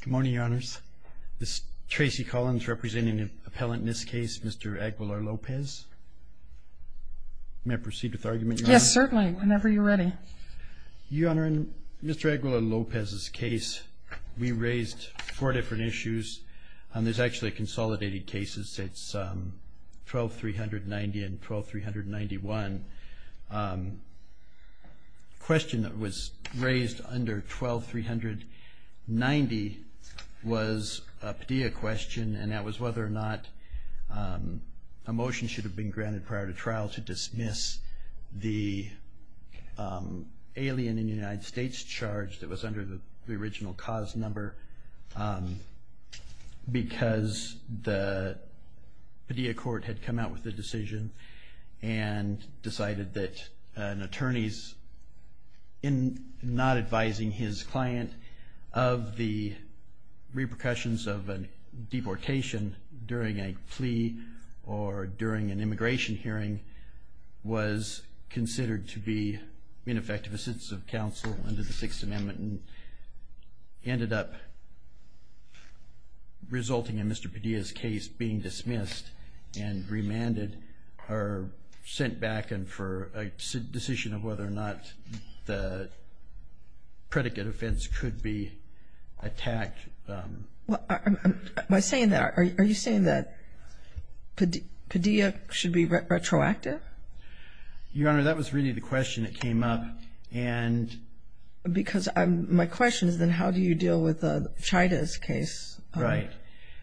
Good morning, Your Honors. This is Tracy Collins representing an appellant in this case, Mr. Aguilar-Lopez. May I proceed with argument, Your Honor? Yes, certainly, whenever you're ready. Your Honor, in Mr. Aguilar-Lopez's case, we raised four different issues. There's actually consolidated cases. It's 12,390 and 12,391. The question that was raised under 12,390 was a Padilla question, and that was whether or not a motion should have been granted prior to trial to dismiss the alien in the United States charge that was under the original cause number because the Padilla court had come out with a decision and decided that an attorney not advising his client of the repercussions of a deportation during a plea or during an immigration hearing was considered to be ineffective assistance of counsel under the Sixth Amendment and ended up resulting in Mr. Padilla's case being dismissed and remanded or sent back in for a decision of whether or not the predicate offense could be attacked. Are you saying that Padilla should be retroactive? Your Honor, that was really the question that came up, because my question is then how do you deal with the Chaydez case? Right.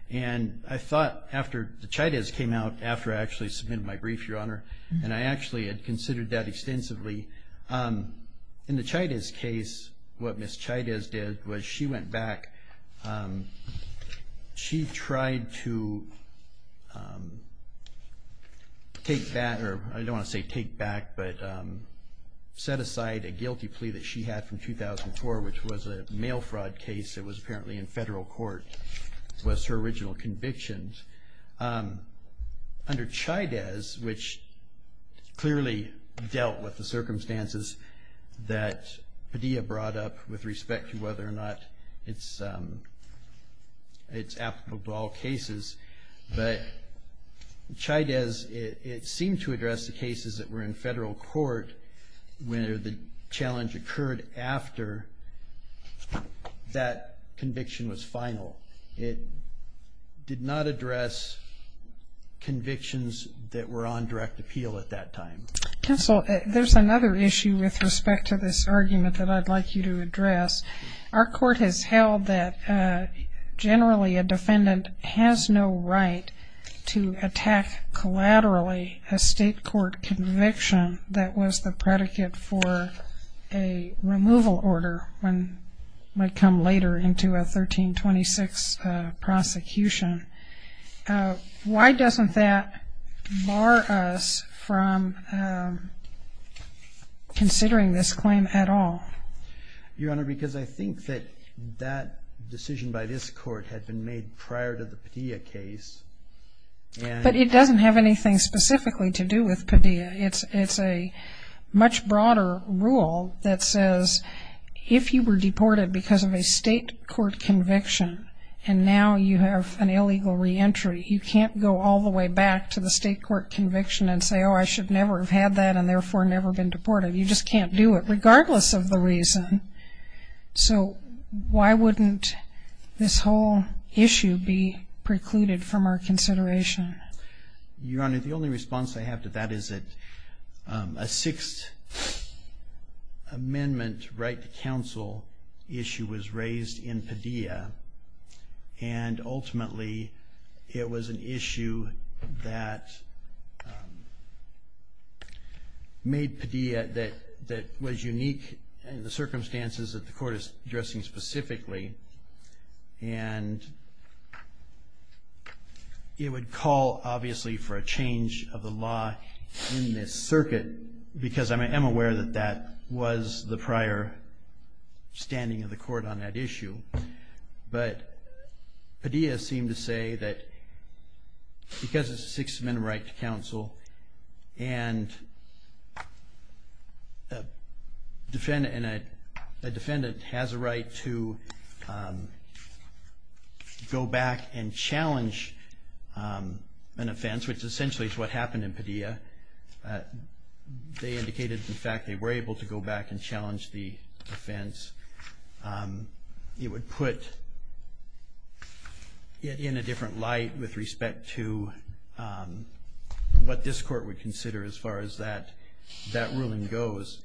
And I thought after the Chaydez came out after I actually submitted my brief, Your Honor, and I actually had considered that extensively. In the Chaydez case, what Ms. Chaydez did was she went back. She tried to take back, or I don't want to say take back, but set aside a guilty plea that she had from 2004, which was a mail fraud case that was apparently in federal court. It was her original convictions. Under Chaydez, which clearly dealt with the circumstances that Padilla brought up with respect to whether or not it's applicable to all cases, but Chaydez, it seemed to address the cases that were in federal court where the challenge occurred after that conviction was final. It did not address convictions that were on direct appeal at that time. Counsel, there's another issue with respect to this argument that I'd like you to address. Our court has held that generally a defendant has no right to attack collaterally a state court conviction that was the predicate for a removal order when it might come later into a 1326 prosecution. Why doesn't that bar us from considering this claim at all? Your Honor, because I think that that decision by this court had been made prior to the Padilla case. But it doesn't have anything specifically to do with Padilla. It's a much broader rule that says if you were deported because of a state court conviction and now you have an illegal reentry, you can't go all the way back to the state court conviction and say, oh, I should never have had that and therefore never been deported. You just can't do it regardless of the reason. So why wouldn't this whole issue be precluded from our consideration? Your Honor, the only response I have to that is that a Sixth Amendment right to counsel issue was raised in Padilla, and ultimately it was an issue that made Padilla that was unique in the circumstances that the court is addressing specifically. And it would call, obviously, for a change of the law in this circuit because I am aware that that was the prior standing of the court on that issue. But Padilla seemed to say that because it's a Sixth Amendment right to counsel and a defendant has a right to go back and challenge an offense, which essentially is what happened in Padilla. They indicated, in fact, they were able to go back and challenge the offense. It would put it in a different light with respect to what this court would consider as far as that ruling goes.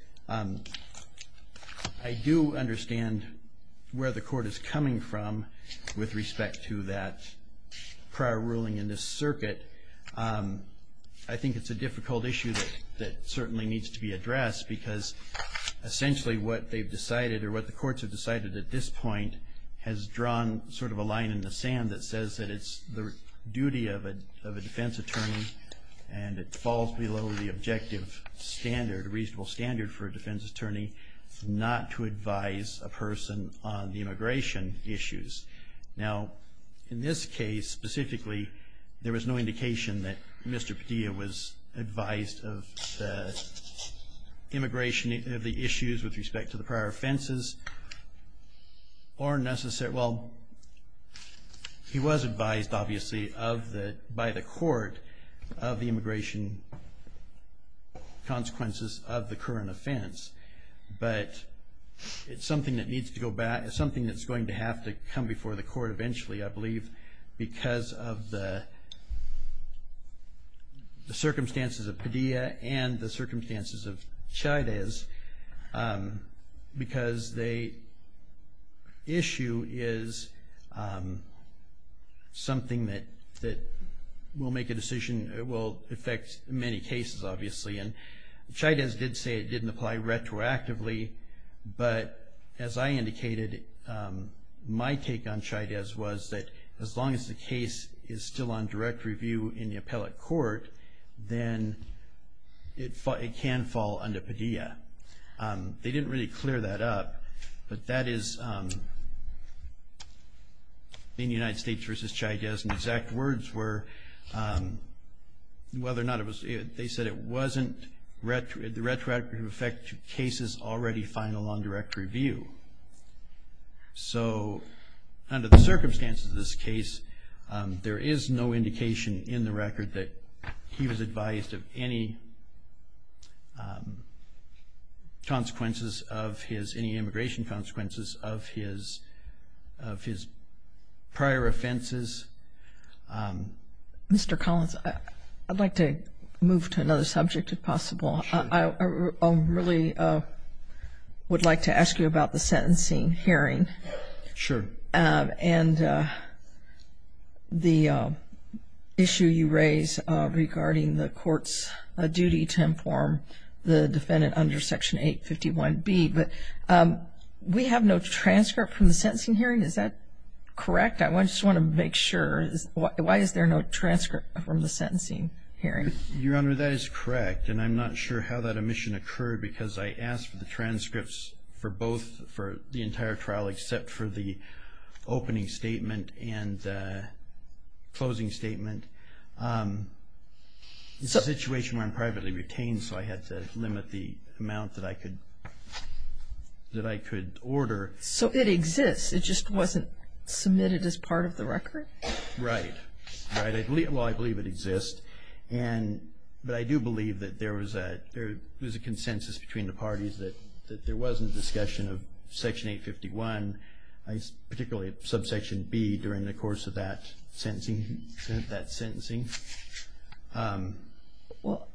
I do understand where the court is coming from with respect to that prior ruling in this circuit. I think it's a difficult issue that certainly needs to be addressed because essentially what they've decided or what the courts have decided at this point has drawn sort of a line in the sand that says that it's the duty of a defense attorney and it falls below the objective standard, reasonable standard for a defense attorney not to advise a person on the immigration issues. Now, in this case, specifically, there was no indication that Mr. Padilla was advised of the immigration of the issues with respect to the prior offenses or necessary. Well, he was advised, obviously, by the court of the immigration consequences of the current offense, but it's something that needs to go back, something that's going to have to come before the court eventually, I believe, because of the circumstances of Padilla and the circumstances of Chavez because the issue is something that will affect many cases, obviously. And Chavez did say it didn't apply retroactively, but as I indicated, my take on Chavez was that as long as the case is still on direct review in the appellate court, then it can fall under Padilla. They didn't really clear that up, but that is in United States v. Chavez, and exact words were whether or not it was, they said it wasn't, the retroactive effect to cases already final on direct review. So under the circumstances of this case, there is no indication in the record that he was advised of any consequences of his, any immigration consequences of his prior offenses. Mr. Collins, I'd like to move to another subject if possible. Sure. I really would like to ask you about the sentencing hearing. Sure. And the issue you raise regarding the court's duty to inform the defendant under Section 851B, but we have no transcript from the sentencing hearing. Is that correct? I just want to make sure. Why is there no transcript from the sentencing hearing? Your Honor, that is correct, and I'm not sure how that omission occurred because I asked for the transcripts for both, for the entire trial, except for the opening statement and closing statement. It's a situation where I'm privately retained, so I had to limit the amount that I could order. So it exists. It just wasn't submitted as part of the record? Right. Well, I believe it exists, but I do believe that there was a consensus between the parties that there was a discussion of Section 851, particularly Subsection B during the course of that sentencing. Well,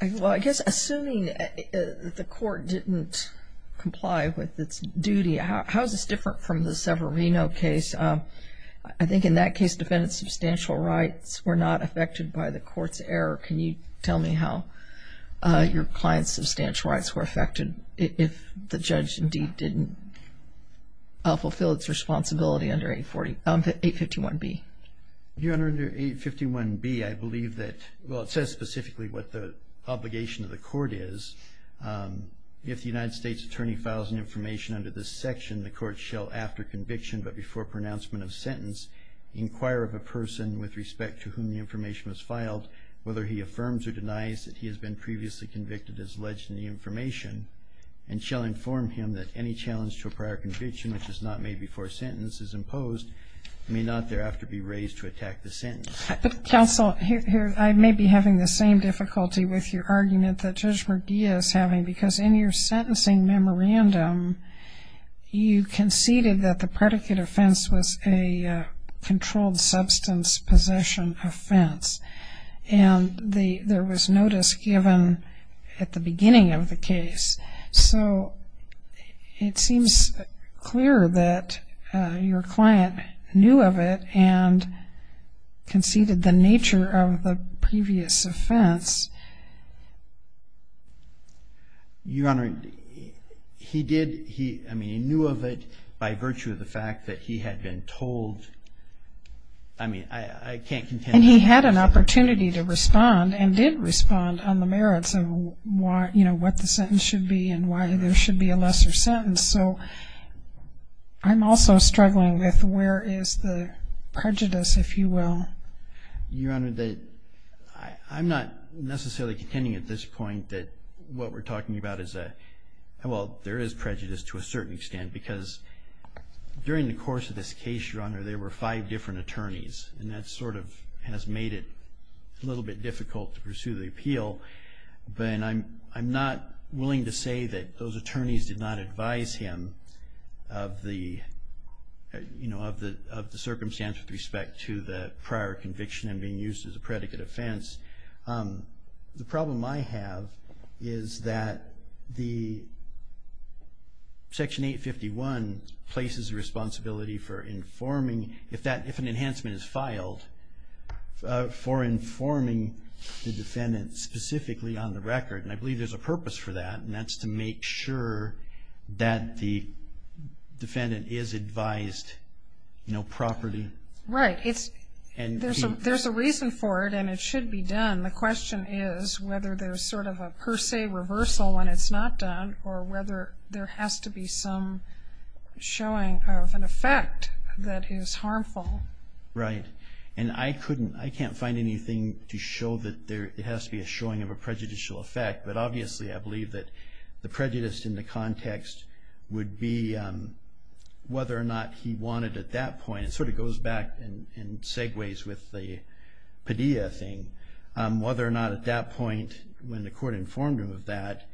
I guess assuming the court didn't comply with its duty, how is this different from the Severino case? I think in that case, defendant's substantial rights were not affected by the court's error. Can you tell me how your client's substantial rights were affected if the judge indeed didn't fulfill its responsibility under 851B? Your Honor, under 851B, I believe that, well, it says specifically what the obligation of the court is. If the United States attorney files an information under this section, the court shall, after conviction but before pronouncement of sentence, inquire of a person with respect to whom the information was filed, whether he affirms or denies that he has been previously convicted as alleged in the information, and shall inform him that any challenge to a prior conviction which is not made before sentence is imposed and may not thereafter be raised to attack the sentence. Counsel, I may be having the same difficulty with your argument that Judge Murguia is having because in your sentencing memorandum, you conceded that the predicate offense was a controlled substance possession offense, and there was notice given at the beginning of the case. So it seems clear that your client knew of it and conceded the nature of the previous offense. Your Honor, he did, I mean, he knew of it by virtue of the fact that he had been told, I mean, I can't contend with that. And he had an opportunity to respond and did respond on the merits of what the sentence should be and why there should be a lesser sentence. So I'm also struggling with where is the prejudice, if you will. Your Honor, I'm not necessarily contending at this point that what we're talking about is a, well, there is prejudice to a certain extent because during the course of this case, Your Honor, there were five different attorneys, and that sort of has made it a little bit difficult to pursue the appeal. But I'm not willing to say that those attorneys did not advise him of the circumstance with respect to the prior conviction and being used as a predicate offense. The problem I have is that the Section 851 places a responsibility for informing, if an enhancement is filed, for informing the defendant specifically on the record. And I believe there's a purpose for that, and that's to make sure that the defendant is advised, you know, properly. Right. There's a reason for it, and it should be done. The question is whether there's sort of a per se reversal when it's not done or whether there has to be some showing of an effect that is harmful. Right. And I can't find anything to show that there has to be a showing of a prejudicial effect. But obviously I believe that the prejudice in the context would be whether or not he wanted at that point, it sort of goes back and segues with the Padilla thing, whether or not at that point when the court informed him of that,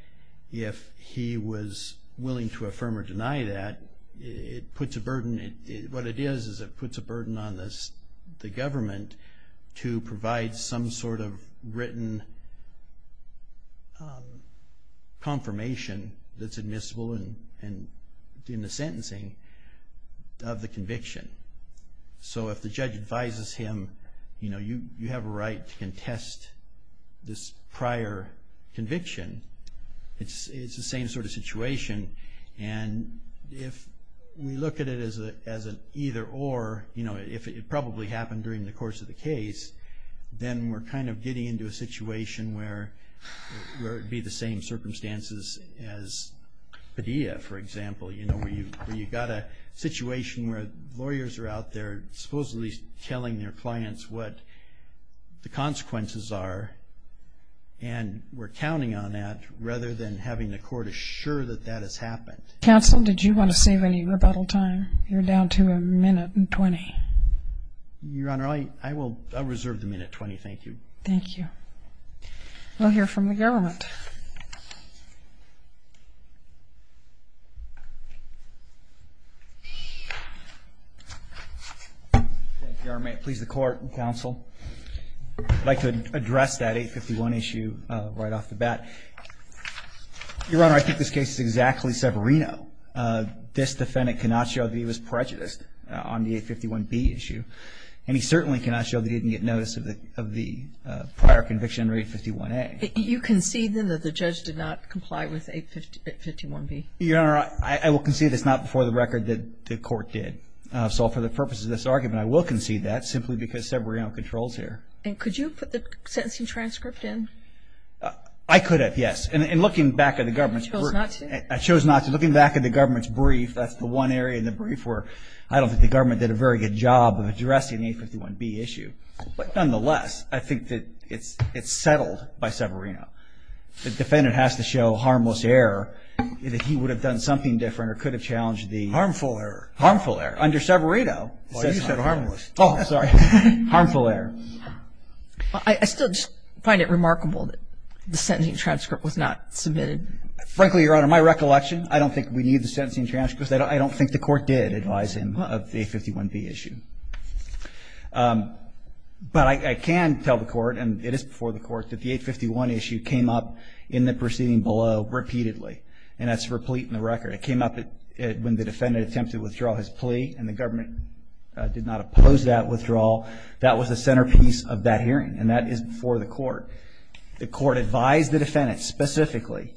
if he was willing to affirm or deny that, it puts a burden. And what it is is it puts a burden on the government to provide some sort of written confirmation that's admissible in the sentencing of the conviction. So if the judge advises him, you know, you have a right to contest this prior conviction, and if we look at it as an either or, you know, if it probably happened during the course of the case, then we're kind of getting into a situation where it would be the same circumstances as Padilla, for example. You know, where you've got a situation where lawyers are out there supposedly telling their clients what the consequences are, and we're counting on that rather than having the court assure that that has happened. Counsel, did you want to save any rebuttal time? You're down to a minute and 20. Your Honor, I will reserve the minute 20, thank you. Thank you. We'll hear from the government. Your Honor, may it please the court and counsel, I'd like to address that 851 issue right off the bat. Your Honor, I think this case is exactly Severino. This defendant cannot show that he was prejudiced on the 851B issue, and he certainly cannot show that he didn't get notice of the prior conviction under 851A. You concede, then, that the judge did not comply with 851B? Your Honor, I will concede it's not before the record that the court did. So for the purposes of this argument, I will concede that, simply because Severino controls here. And could you have put the sentencing transcript in? I could have, yes. And looking back at the government's brief. You chose not to? I chose not to. Looking back at the government's brief, that's the one area in the brief where I don't think the government did a very good job of addressing the 851B issue. But nonetheless, I think that it's settled by Severino. The defendant has to show harmless error, that he would have done something different or could have challenged the I still just find it remarkable that the sentencing transcript was not submitted. Frankly, Your Honor, my recollection, I don't think we need the sentencing transcript, because I don't think the court did advise him of the 851B issue. But I can tell the court, and it is before the court, that the 851 issue came up in the proceeding below repeatedly. And that's replete in the record. It came up when the defendant was in the proceeding below. When the defendant attempted to withdraw his plea, and the government did not oppose that withdrawal, that was the centerpiece of that hearing. And that is before the court. The court advised the defendant, specifically,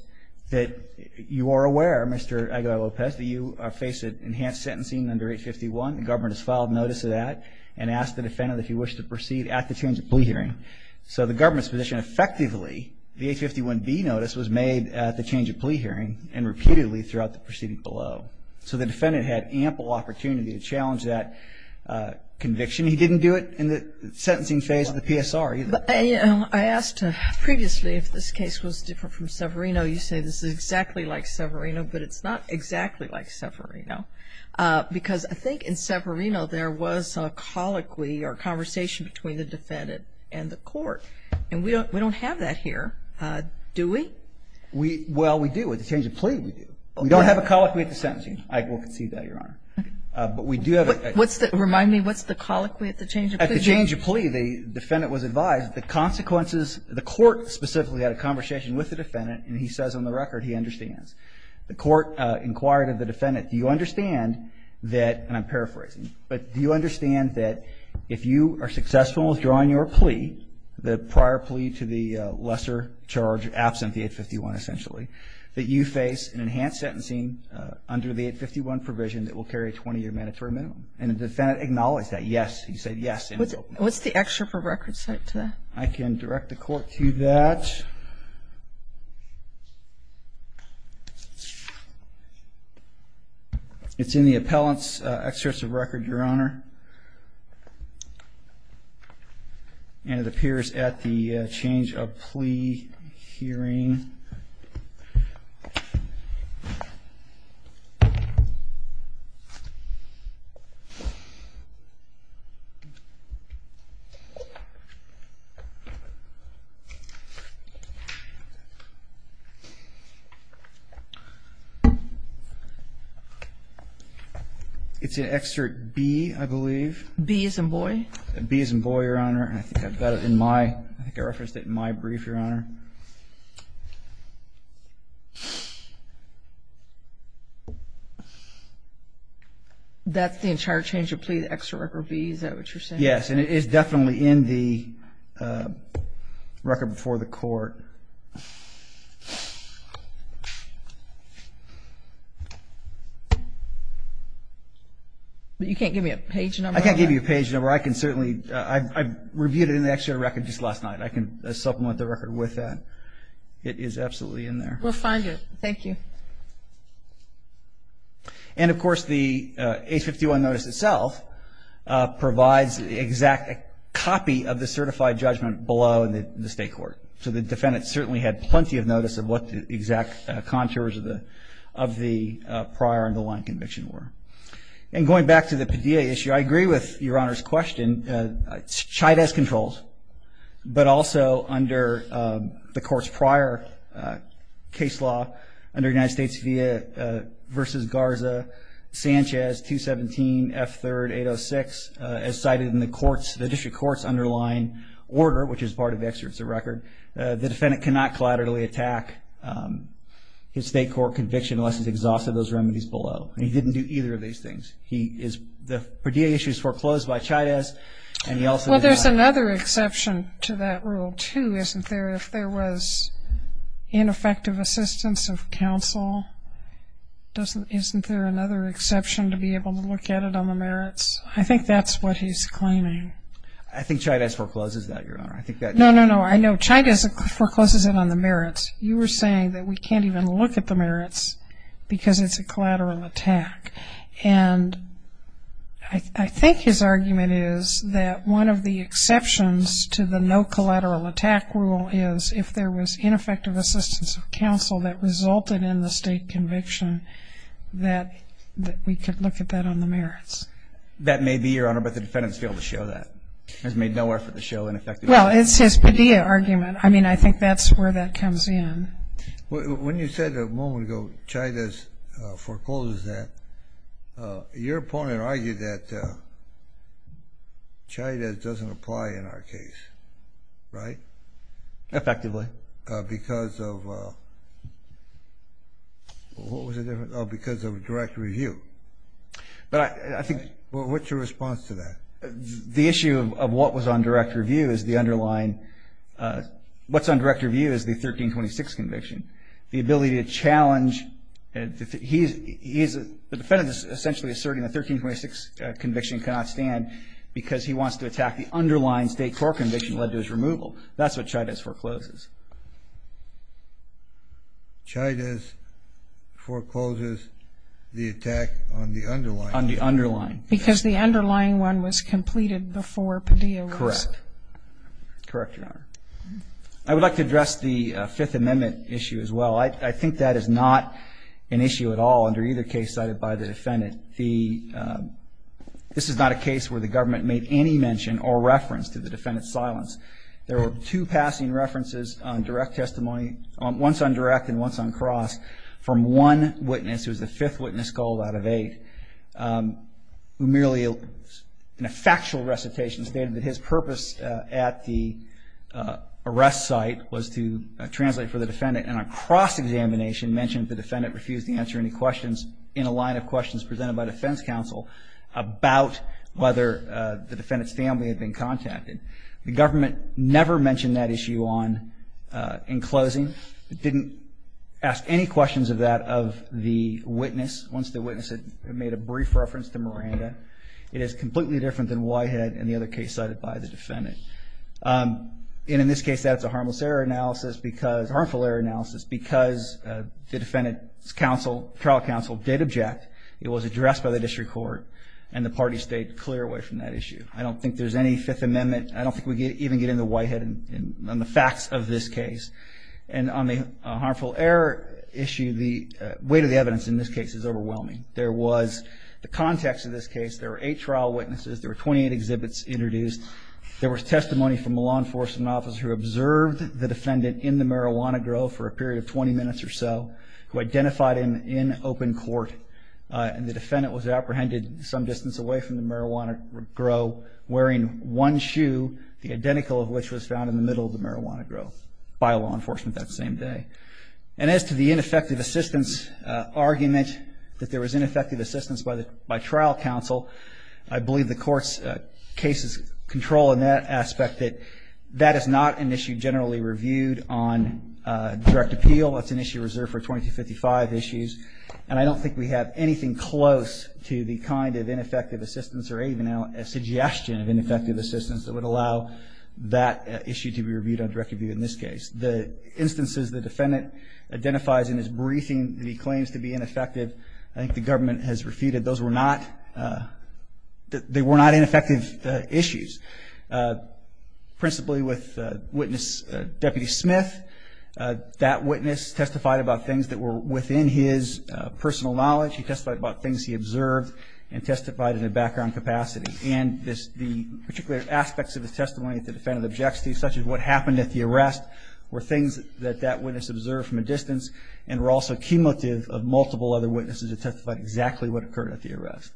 that you are aware, Mr. Aguilar-Lopez, that you face enhanced sentencing under 851. The government has filed notice of that and asked the defendant if he wished to proceed at the change of plea hearing. So the government's position, effectively, the 851B notice was made at the change of plea hearing and repeatedly throughout the proceeding below. So the defendant had ample opportunity to challenge that conviction. He didn't do it in the sentencing phase of the PSR either. I asked previously if this case was different from Severino. You say this is exactly like Severino, but it's not exactly like Severino, because I think in Severino there was a colloquy or a conversation between the defendant and the court. And we don't have that here, do we? Well, we do. At the change of plea, we do. We don't have a colloquy at the sentencing. I will concede that, Your Honor. But we do have a – What's the – remind me, what's the colloquy at the change of plea? At the change of plea, the defendant was advised the consequences – the court specifically had a conversation with the defendant, and he says on the record he understands. The court inquired of the defendant, do you understand that – and I'm paraphrasing – but do you understand that if you are successful with drawing your plea, the prior plea to the lesser charge absent the 851, essentially, that you face an enhanced sentencing under the 851 provision that will carry a 20-year mandatory minimum? And the defendant acknowledged that, yes. He said yes. What's the excerpt of record cite to that? I can direct the court to that. It's in the appellant's excerpt of record, Your Honor. And it appears at the change of plea hearing. It's in excerpt B, I believe. B as in boy? B as in boy, Your Honor. And I think I've got it in my – I think I referenced it in my brief, Your Honor. That's the entire change of plea, the excerpt of B? Is that what you're saying? Yes, and it is definitely in the record before the court. But you can't give me a page number? I can't give you a page number. I can certainly – I reviewed it in the excerpt of record just last night. I can supplement the record with that. It is absolutely in there. We'll find it. Thank you. And, of course, the 851 notice itself provides the exact copy of the certified judgment below in the state court. So the defendant certainly had plenty of notice of what the exact contours of the prior and the line conviction were. And going back to the Padilla issue, I agree with Your Honor's question. Chide has controls, but also under the court's prior case law, under United States v. Garza, Sanchez, 217, F3, 806, as cited in the district court's underlying order, which is part of the excerpt of record, the defendant cannot collaterally attack his state court conviction unless he's exhausted those remedies below. And he didn't do either of these things. The Padilla issue is foreclosed by Chide's and he also – Well, there's another exception to that rule, too, isn't there? If there was ineffective assistance of counsel, isn't there another exception to be able to look at it on the merits? I think that's what he's claiming. I think Chide's forecloses that, Your Honor. No, no, no. I know Chide's forecloses it on the merits. You were saying that we can't even look at the merits because it's a collateral attack. And I think his argument is that one of the exceptions to the no collateral attack rule is if there was ineffective assistance of counsel that resulted in the state conviction, that we could look at that on the merits. That may be, Your Honor, but the defendant has failed to show that, has made no effort to show ineffective assistance. Well, it's his Padilla argument. I mean, I think that's where that comes in. When you said a moment ago Chide's forecloses that, your opponent argued that Chide's doesn't apply in our case, right? Effectively. Because of what was the difference? Oh, because of direct review. But I think – What's your response to that? The issue of what was on direct review is the underlying – what's on direct review is the 1326 conviction. The ability to challenge – the defendant is essentially asserting the 1326 conviction cannot stand because he wants to attack the underlying state court conviction led to his removal. That's what Chide's forecloses. Chide's forecloses the attack on the underlying. On the underlying. Because the underlying one was completed before Padilla was. Correct. Correct, Your Honor. I would like to address the Fifth Amendment issue as well. I think that is not an issue at all under either case cited by the defendant. This is not a case where the government made any mention or reference to the defendant's silence. There were two passing references on direct testimony, once on direct and once on cross, from one witness, who is the fifth witness called out of eight, who merely in a factual recitation stated that his purpose at the arrest site was to translate for the defendant, and on cross-examination mentioned the defendant refused to answer any questions in a line of questions presented by defense counsel about whether the defendant's family had been contacted. The government never mentioned that issue on – in closing. It didn't ask any questions of that of the witness, once the witness had made a brief reference to Miranda. It is completely different than Whitehead and the other case cited by the defendant. And in this case, that's a harmless error analysis because – harmful error analysis because the defendant's counsel, trial counsel, did object. It was addressed by the district court, and the party stayed clear away from that issue. I don't think there's any Fifth Amendment – I don't think we even get into Whitehead and the facts of this case. And on the harmful error issue, the weight of the evidence in this case is overwhelming. There was – the context of this case, there were eight trial witnesses, there were 28 exhibits introduced, there was testimony from a law enforcement officer who observed the defendant in the marijuana grow for a period of 20 minutes or so, who identified him in open court, and the defendant was apprehended some distance away from the marijuana grow, wearing one shoe, the identical of which was found in the middle of the marijuana grow, by law enforcement that same day. And as to the ineffective assistance argument, that there was ineffective assistance by trial counsel, I believe the court's case is controlling that aspect, that that is not an issue generally reviewed on direct appeal. That's an issue reserved for 2255 issues. And I don't think we have anything close to the kind of ineffective assistance or even a suggestion of ineffective assistance that would allow that issue to be reviewed on direct appeal in this case. The instances the defendant identifies in his briefing that he claims to be ineffective, I think the government has refuted. Those were not – they were not ineffective issues. Principally with witness Deputy Smith, that witness testified about things that were within his personal knowledge. He testified about things he observed and testified in a background capacity. And the particular aspects of his testimony at the defendant's objectivity, such as what happened at the arrest, were things that that witness observed from a distance and were also cumulative of multiple other witnesses that testified exactly what occurred at the arrest.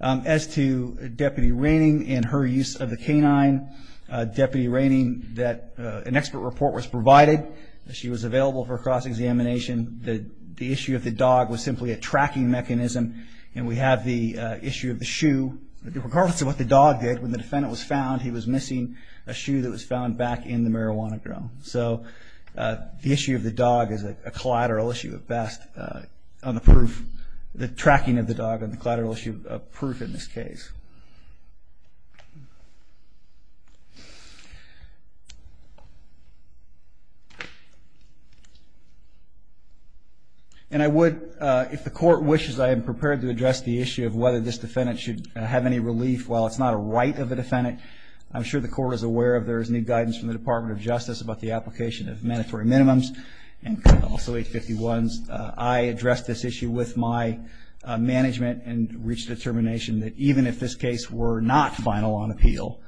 As to Deputy Raining and her use of the canine, Deputy Raining, an expert report was provided. She was available for cross-examination. The issue of the dog was simply a tracking mechanism. And we have the issue of the shoe. Regardless of what the dog did, when the defendant was found, he was missing a shoe that was found back in the marijuana grill. So the issue of the dog is a collateral issue at best on the proof – the tracking of the dog on the collateral issue of proof in this case. And I would, if the court wishes, I am prepared to address the issue of whether this defendant should have any relief. While it's not a right of the defendant, I'm sure the court is aware if there is any guidance from the Department of Justice about the application of mandatory minimums and also 851s. I addressed this issue with my management and reached a determination I would not be able to provide any relief. If the 851s in this case were not final on appeal,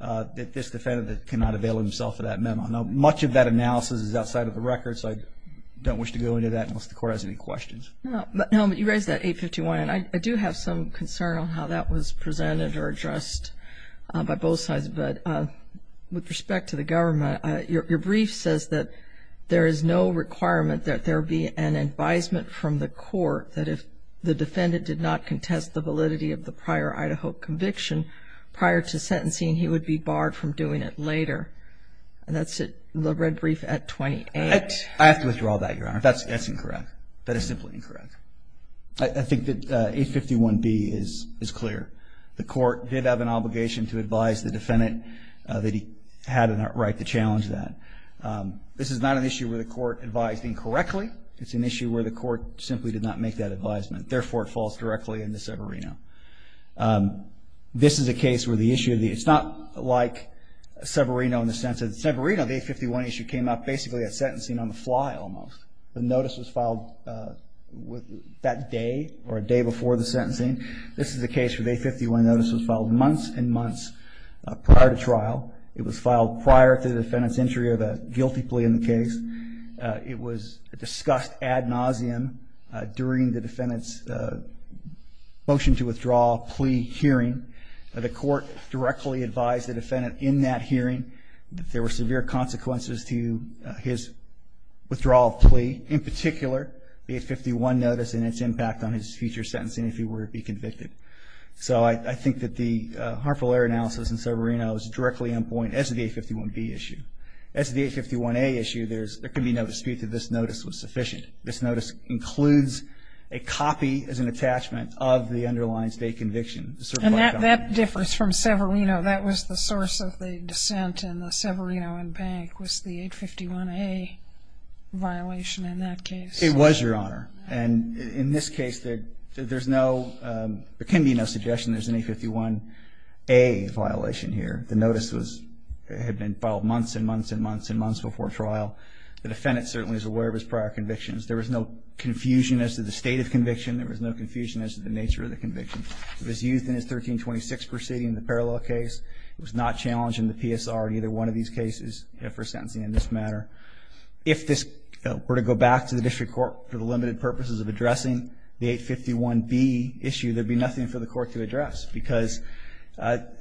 that this defendant cannot avail himself of that memo. Now, much of that analysis is outside of the record, so I don't wish to go into that unless the court has any questions. No, but you raised that 851, and I do have some concern on how that was presented or addressed by both sides. But with respect to the government, your brief says that there is no requirement that there be an advisement from the court that if the defendant did not contest the validity of the prior Idaho conviction prior to sentencing, he would be barred from doing it later. And that's the red brief at 28. I have to withdraw that, Your Honor. That's incorrect. That is simply incorrect. I think that 851B is clear. The court did have an obligation to advise the defendant that he had a right to challenge that. This is not an issue where the court advised incorrectly. It's an issue where the court simply did not make that advisement. Therefore, it falls directly into Severino. This is a case where the issue of the issue, it's not like Severino in the sense that Severino, the 851 issue, came up basically at sentencing on the fly almost. The notice was filed that day or a day before the sentencing. This is a case where the 851 notice was filed months and months prior to trial. It was filed prior to the defendant's entry of a guilty plea in the case. It was discussed ad nauseum during the defendant's motion to withdraw plea hearing. The court directly advised the defendant in that hearing that there were severe consequences to his withdrawal plea, in particular the 851 notice and its impact on his future sentencing if he were to be convicted. So I think that the harmful error analysis in Severino is directly on point as to the 851B issue. As to the 851A issue, there can be no dispute that this notice was sufficient. This notice includes a copy as an attachment of the underlying state conviction. And that differs from Severino. That was the source of the dissent, and the Severino and Bank was the 851A violation in that case. It was, Your Honor. And in this case, there can be no suggestion there's an 851A violation here. The notice had been filed months and months and months and months before trial. The defendant certainly is aware of his prior convictions. There was no confusion as to the state of conviction. There was no confusion as to the nature of the conviction. It was used in his 1326 proceeding, the parallel case. It was not challenged in the PSR in either one of these cases for sentencing in this matter. If this were to go back to the district court for the limited purposes of addressing the 851B issue, there would be nothing for the court to address because the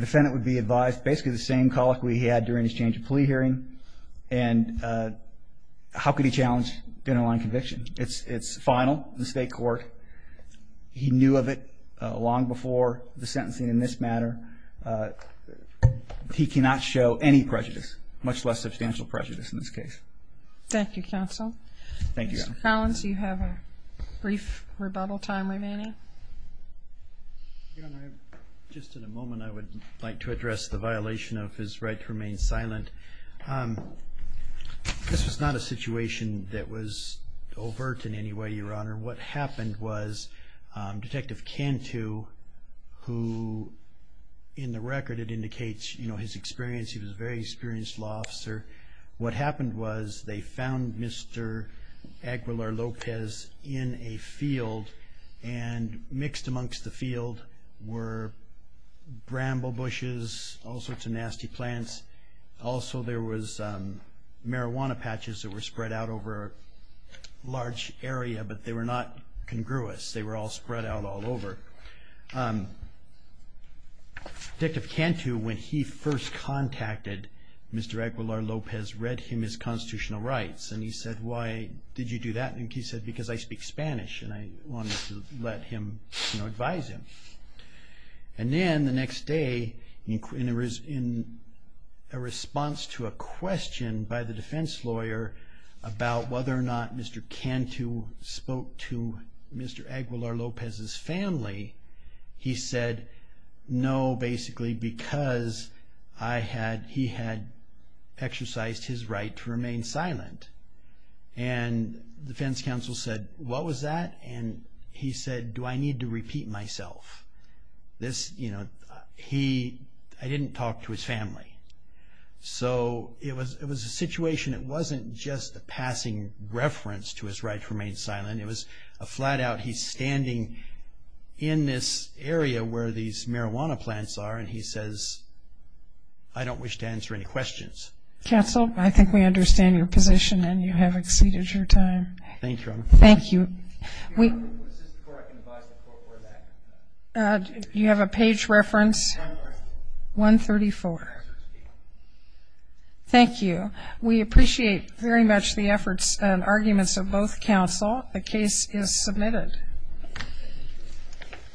defendant would be advised basically the same colloquy he had during his change of plea hearing. And how could he challenge the underlying conviction? It's final in the state court. He knew of it long before the sentencing in this matter. He cannot show any prejudice, much less substantial prejudice in this case. Thank you, counsel. Thank you, Your Honor. Mr. Collins, you have a brief rebuttal time remaining. Your Honor, just in a moment I would like to address the violation of his right to remain silent. This was not a situation that was overt in any way, Your Honor. What happened was Detective Cantu, who in the record it indicates his experience. He was a very experienced law officer. What happened was they found Mr. Aguilar-Lopez in a field, and mixed amongst the field were bramble bushes, all sorts of nasty plants. Also there was marijuana patches that were spread out over a large area, but they were not congruous. They were all spread out all over. Detective Cantu, when he first contacted Mr. Aguilar-Lopez, read him his constitutional rights. He said, why did you do that? He said, because I speak Spanish, and I wanted to let him advise him. Then the next day, in a response to a question by the defense lawyer about whether or not Mr. Cantu spoke to Mr. Aguilar-Lopez's family, he said, no, basically because he had exercised his right to remain silent. The defense counsel said, what was that? He said, do I need to repeat myself? I didn't talk to his family. So it was a situation that wasn't just a passing reference to his right to remain silent. It was a flat-out, he's standing in this area where these marijuana plants are, and he says, I don't wish to answer any questions. Counsel, I think we understand your position, and you have exceeded your time. Thank you, Your Honor. Thank you. Your Honor, is this before I can advise the court for that? You have a page reference? 134. Thank you. We appreciate very much the efforts and arguments of both counsel. The case is submitted.